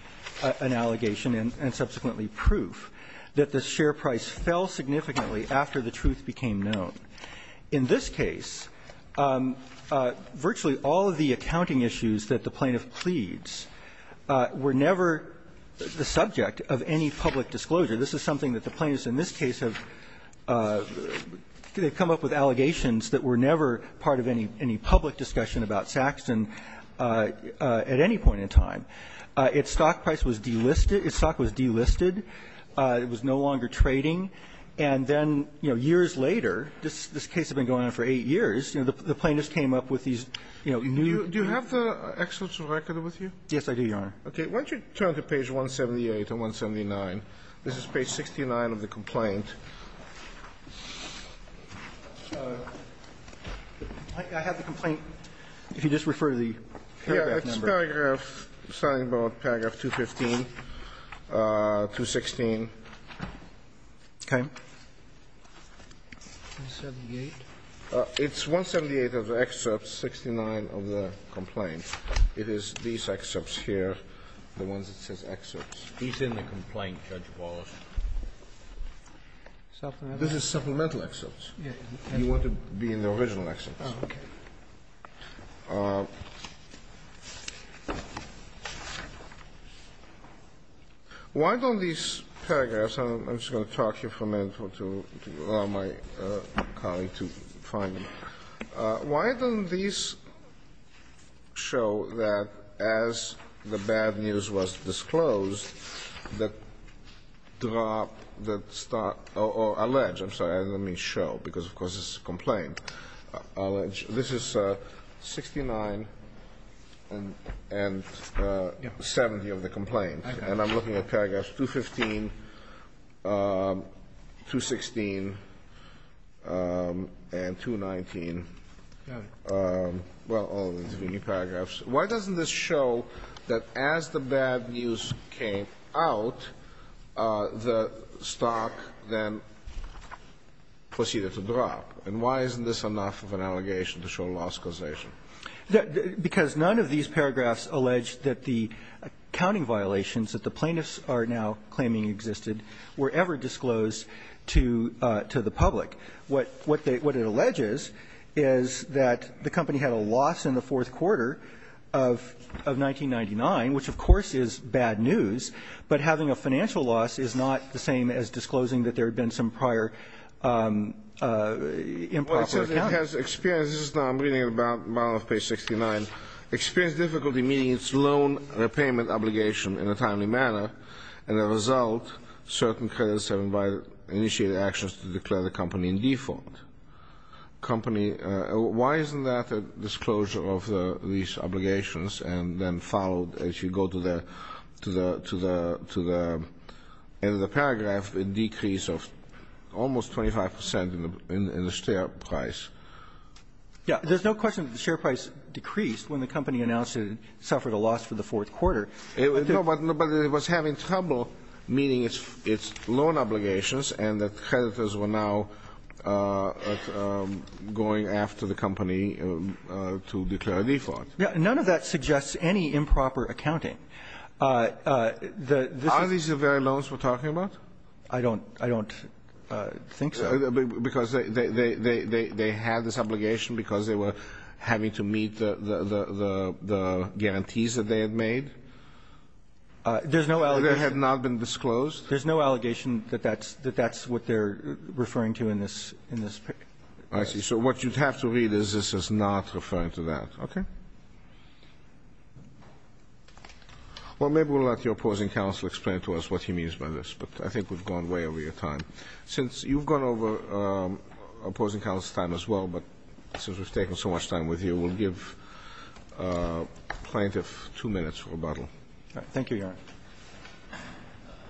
an allegation and subsequently proof that the share price fell significantly after the truth became known. In this case, virtually all of the accounting issues that the plaintiff pleads were never the subject of any public disclosure. This is something that the plaintiffs in this case have come up with allegations that were never part of any public discussion about Saxton at any point in time. Its stock price was delisted. Its stock was delisted. It was no longer trading. And then, you know, years later, this case had been going on for eight years, you know, the plaintiffs came up with these, you know, new. Do you have the excellence of record with you? Yes, I do, Your Honor. Okay. Why don't you turn to page 178 and 179. This is page 69 of the complaint. I have the complaint. If you just refer to the paragraph number. Yeah. It's paragraph, starting about paragraph 215, 216. Okay. 178? It's 178 of the excerpts, 69 of the complaint. It is these excerpts here, the ones that says excerpts. He's in the complaint, Judge Wallace. Supplemental? This is supplemental excerpts. Yeah. You want to be in the original excerpts. Oh, okay. Why don't these paragraphs, I'm just going to talk here for a minute to allow my colleague to find them. Why don't these show that as the bad news was disclosed, that drop, that start, or allege, I'm sorry, I don't mean show because, of course, it's a complaint. This is 69 and 70 of the complaint. Okay. And I'm looking at paragraphs 215, 216, and 219. Got it. Well, all the intervening paragraphs. Why doesn't this show that as the bad news came out, the stock then proceeded to drop? And why isn't this enough of an allegation to show a loss causation? Because none of these paragraphs allege that the accounting violations that the plaintiffs are now claiming existed were ever disclosed to the public. What it alleges is that the company had a loss in the fourth quarter of 1999, which of course is bad news, but having a financial loss is not the same as disclosing that there had been some prior improper accounting. Well, it says it has experienced, this is what I'm reading at the bottom of page 69, experienced difficulty meeting its loan repayment obligation in a timely manner, and as a result, certain creditors have initiated actions to declare the company in default. Why isn't that a disclosure of these obligations and then followed as you go to the end of the paragraph a decrease of almost 25 percent in the share price? Yeah. There's no question that the share price decreased when the company announced it suffered a loss for the fourth quarter. No, but it was having trouble meeting its loan obligations and the creditors were now going after the company to declare a default. Yeah. None of that suggests any improper accounting. Are these the very loans we're talking about? I don't think so. Because they had this obligation because they were having to meet the guarantees that they had made? There's no allegation. They had not been disclosed? There's no allegation that that's what they're referring to in this. I see. So what you'd have to read is this is not referring to that. Okay. Well, maybe we'll let your opposing counsel explain to us what he means by this, but I think we've gone way over your time. Since you've gone over opposing counsel's time as well, but since we've taken so much time with you, we'll give the plaintiff two minutes for rebuttal. Thank you, Your Honor.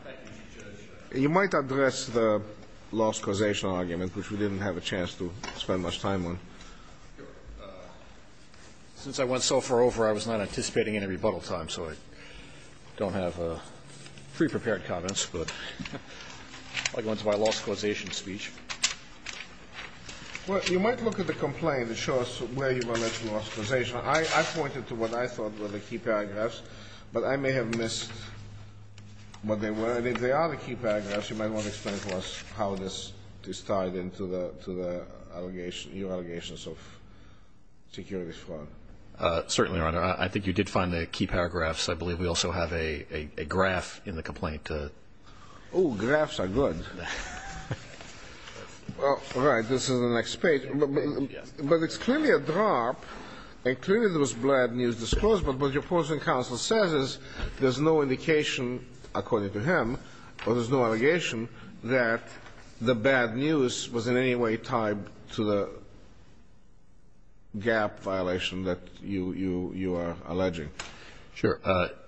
Thank you, Judge. You might address the loss causation argument, which we didn't have a chance to spend much time on. Since I went so far over, I was not anticipating any rebuttal time, so I don't have pre-prepared comments, but I'll go into my loss causation speech. Well, you might look at the complaint and show us where you went into loss causation. I pointed to what I thought were the key paragraphs, but I may have missed what they were. And if they are the key paragraphs, you might want to explain to us how this is tied into your allegations of security fraud. Certainly, Your Honor. I think you did find the key paragraphs. I believe we also have a graph in the complaint. Oh, graphs are good. All right, this is the next page. But it's clearly a drop, and clearly there was bad news disclosed, but what your opposing counsel says is there's no indication, according to him, or there's no allegation that the bad news was in any way tied to the gap violation that you are alleging. Sure.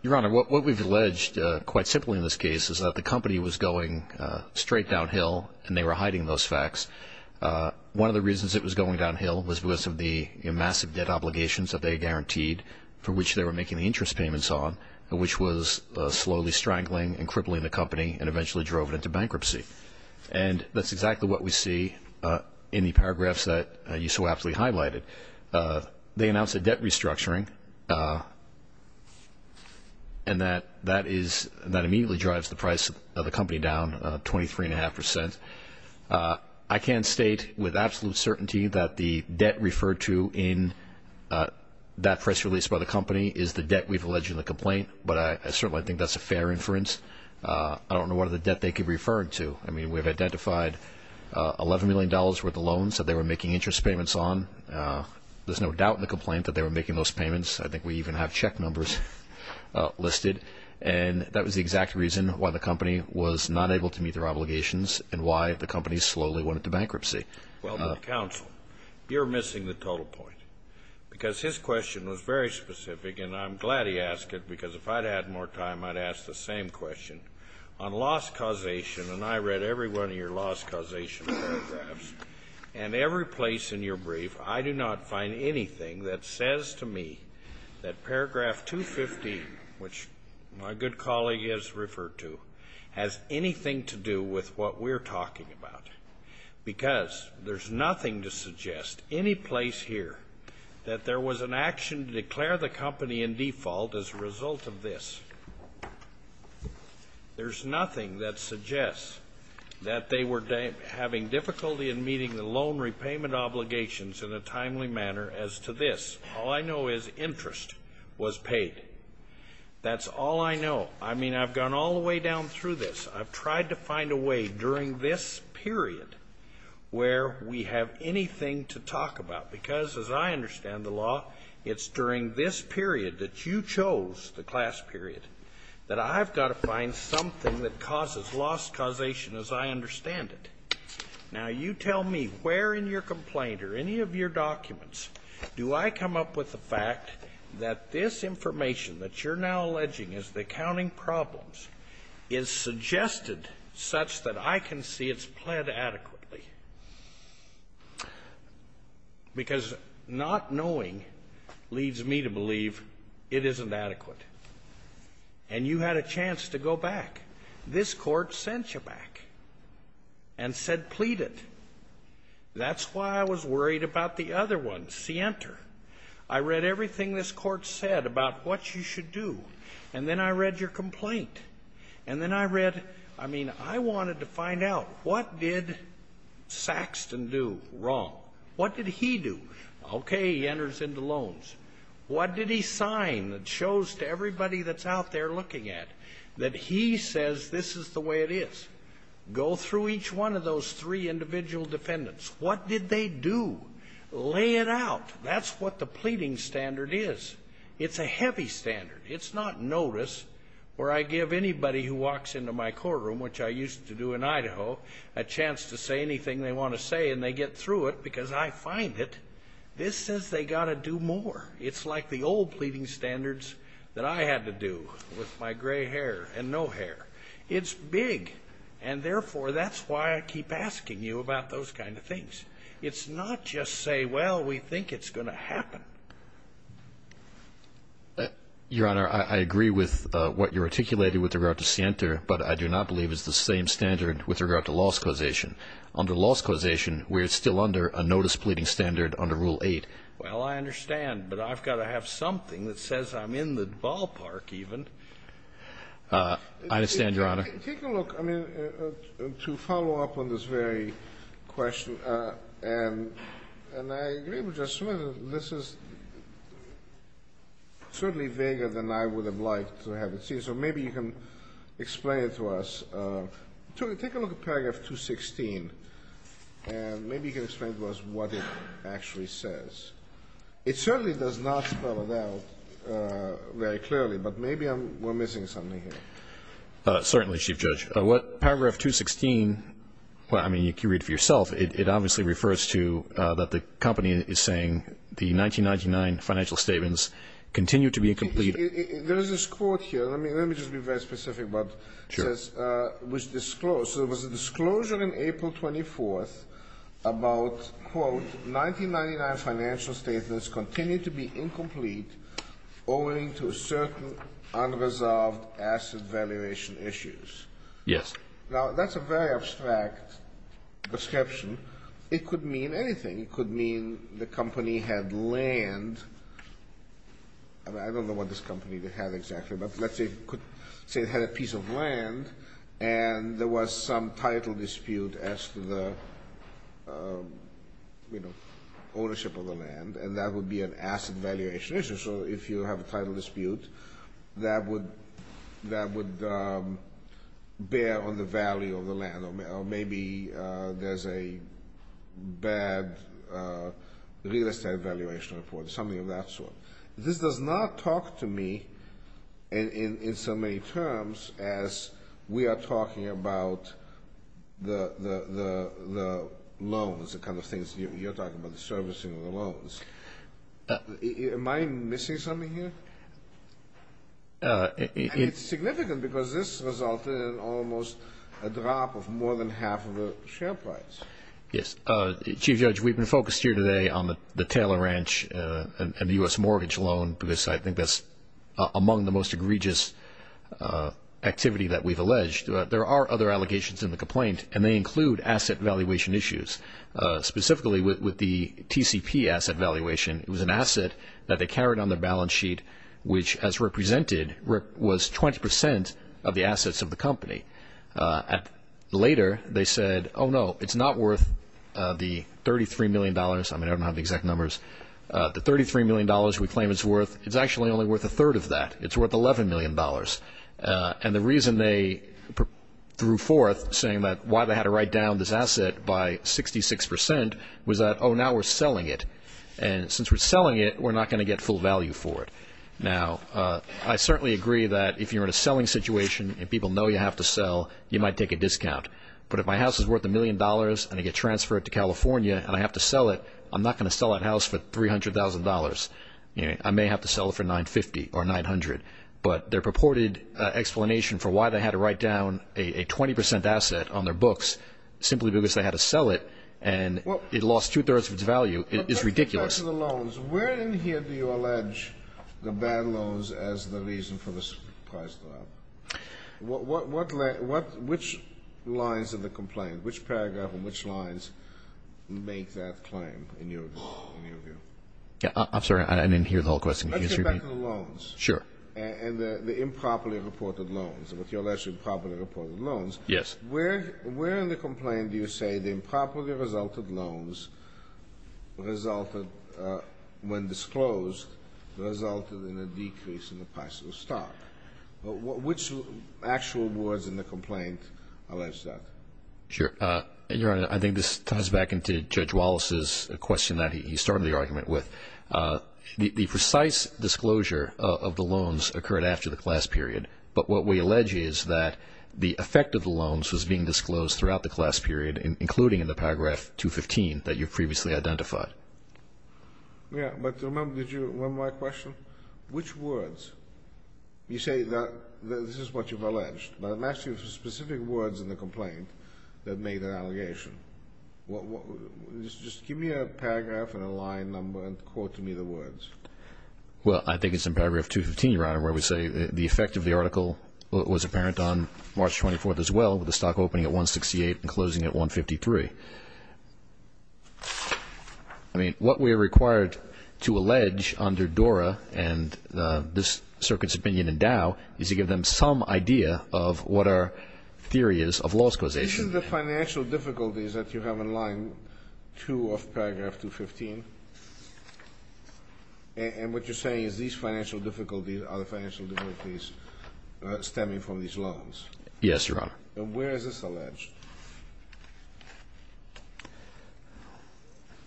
Your Honor, what we've alleged, quite simply in this case, is that the company was going straight downhill and they were hiding those facts. One of the reasons it was going downhill was because of the massive debt obligations that they guaranteed for which they were making the interest payments on, which was slowly strangling and crippling the company and eventually drove it into bankruptcy. And that's exactly what we see in the paragraphs that you so aptly highlighted. They announced a debt restructuring, and that immediately drives the price of the company down 23.5%. I can state with absolute certainty that the debt referred to in that press release by the company is the debt we've alleged in the complaint, but I certainly think that's a fair inference. I don't know what other debt they could refer to. I mean, we've identified $11 million worth of loans that they were making interest payments on. There's no doubt in the complaint that they were making those payments. I think we even have check numbers listed. And that was the exact reason why the company was not able to meet their obligations and why the company slowly went into bankruptcy. Well, Counsel, you're missing the total point because his question was very specific, and I'm glad he asked it because if I'd had more time, I'd ask the same question. On loss causation, and I read every one of your loss causation paragraphs, and every place in your brief I do not find anything that says to me that paragraph 215, which my good colleague has referred to, has anything to do with what we're talking about because there's nothing to suggest any place here that there was an action to declare the company in default as a result of this. There's nothing that suggests that they were having difficulty in meeting the loan repayment obligations in a timely manner as to this. All I know is interest was paid. That's all I know. I mean, I've gone all the way down through this. I've tried to find a way during this period where we have anything to talk about because as I understand the law, it's during this period that you chose, the class period, that I've got to find something that causes loss causation as I understand it. Now, you tell me where in your complaint or any of your documents do I come up with the fact that this information that you're now alleging is the accounting problems is suggested such that I can see it's pled adequately because not knowing leads me to believe it isn't adequate. And you had a chance to go back. This Court sent you back and said plead it. That's why I was worried about the other one, see enter. I read everything this Court said about what you should do. And then I read your complaint. And then I read, I mean, I wanted to find out what did Saxton do wrong? What did he do? Okay, he enters into loans. What did he sign that shows to everybody that's out there looking at that he says this is the way it is? Go through each one of those three individual defendants. What did they do? Lay it out. That's what the pleading standard is. It's a heavy standard. It's not notice where I give anybody who walks into my courtroom, which I used to do in Idaho, a chance to say anything they want to say and they get through it because I find it. This says they've got to do more. It's like the old pleading standards that I had to do with my gray hair and no hair. It's big, and therefore that's why I keep asking you about those kind of things. It's not just say, well, we think it's going to happen. Your Honor, I agree with what you articulated with regard to Santer, but I do not believe it's the same standard with regard to loss causation. Under loss causation, we're still under a notice pleading standard under Rule 8. Well, I understand, but I've got to have something that says I'm in the ballpark I understand, Your Honor. Take a look. I mean, to follow up on this very question, and I agree with Justice Smith, this is certainly vaguer than I would have liked to have it seen, so maybe you can explain it to us. Take a look at paragraph 216, and maybe you can explain to us what it actually says. It certainly does not spell it out very clearly, but maybe we're missing something here. Certainly, Chief Judge. Paragraph 216, I mean, you can read it for yourself. It obviously refers to that the company is saying the 1999 financial statements continue to be incomplete. There is this quote here. Let me just be very specific about this. Sure. It was disclosed. So it was a disclosure on April 24th about, quote, 1999 financial statements continue to be incomplete owing to certain unresolved asset valuation issues. Yes. Now, that's a very abstract description. It could mean anything. It could mean the company had land. I don't know what this company had exactly, but let's say it had a piece of land, and there was some title dispute as to the, you know, ownership of the land, and that would be an asset valuation issue. So if you have a title dispute, that would bear on the value of the land, or maybe there's a bad real estate valuation report, something of that sort. This does not talk to me in so many terms as we are talking about the loans, the kind of things. You're talking about the servicing of the loans. Am I missing something here? It's significant because this resulted in almost a drop of more than half of the share price. Yes. Chief Judge, we've been focused here today on the Taylor Ranch and the U.S. mortgage loan because I think that's among the most egregious activity that we've alleged. There are other allegations in the complaint, and they include asset valuation issues, specifically with the TCP asset valuation. It was an asset that they carried on their balance sheet, which, as represented, was 20 percent of the assets of the company. Later, they said, oh, no, it's not worth the $33 million. I mean, I don't have the exact numbers. The $33 million we claim it's worth, it's actually only worth a third of that. It's worth $11 million. And the reason they threw forth saying that why they had to write down this asset by 66 percent was that, oh, now we're selling it, and since we're selling it, we're not going to get full value for it. Now, I certainly agree that if you're in a selling situation and people know you have to sell, you might take a discount. But if my house is worth a million dollars and I get transferred to California and I have to sell it, I'm not going to sell that house for $300,000. I may have to sell it for $950,000 or $900,000. But their purported explanation for why they had to write down a 20 percent asset on their books simply because they had to sell it and it lost two-thirds of its value is ridiculous. Let's get back to the loans. Where in here do you allege the bad loans as the reason for this price drop? Which lines of the complaint, which paragraph and which lines make that claim in your view? I'm sorry. I didn't hear the whole question. Let's get back to the loans. Sure. And the improperly reported loans, what you're alleging improperly reported loans. Yes. Where in the complaint do you say the improperly resulted loans resulted when disclosed resulted in a decrease in the price of stock? Which actual words in the complaint allege that? Sure. Your Honor, I think this ties back into Judge Wallace's question that he started the argument with. The precise disclosure of the loans occurred after the class period. But what we allege is that the effect of the loans was being disclosed throughout the class period, including in the paragraph 215 that you previously identified. Yes. But remember, one more question. Which words? You say that this is what you've alleged. But I'm asking you for specific words in the complaint that made that allegation. Well, I think it's in paragraph 215, Your Honor, where we say the effect of the article was apparent on March 24th as well, with the stock opening at 168 and closing at 153. I mean, what we're required to allege under DORA and this circuit's opinion in Dow is to give them some idea of what our theory is of loss causation. This is the financial difficulties that you have in line 2 of paragraph 215. And what you're saying is these financial difficulties are the financial difficulties stemming from these loans. Yes, Your Honor. And where is this alleged?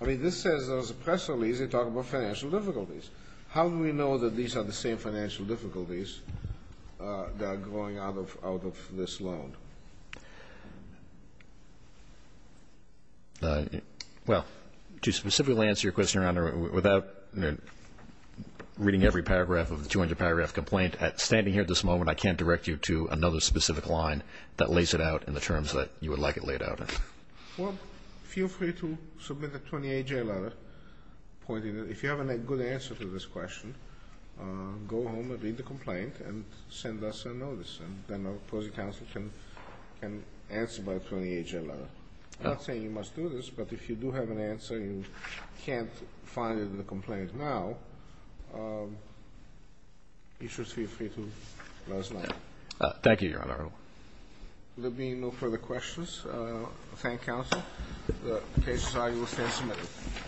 I mean, this says there was a press release that talked about financial difficulties. How do we know that these are the same financial difficulties that are growing out of this loan? Well, to specifically answer your question, Your Honor, without reading every paragraph of the 200-paragraph complaint, standing here at this moment, I can't direct you to another specific line that lays it out in the terms that you would like it laid out in. Well, feel free to submit a 28-J letter pointing it. If you have a good answer to this question, go home and read the complaint and send us a notice, and then our opposing counsel can answer by 28-J letter. I'm not saying you must do this, but if you do have an answer and you can't find it in the complaint now, you should feel free to let us know. Thank you, Your Honor. There being no further questions, thank counsel. The case is signed and will stand submitted.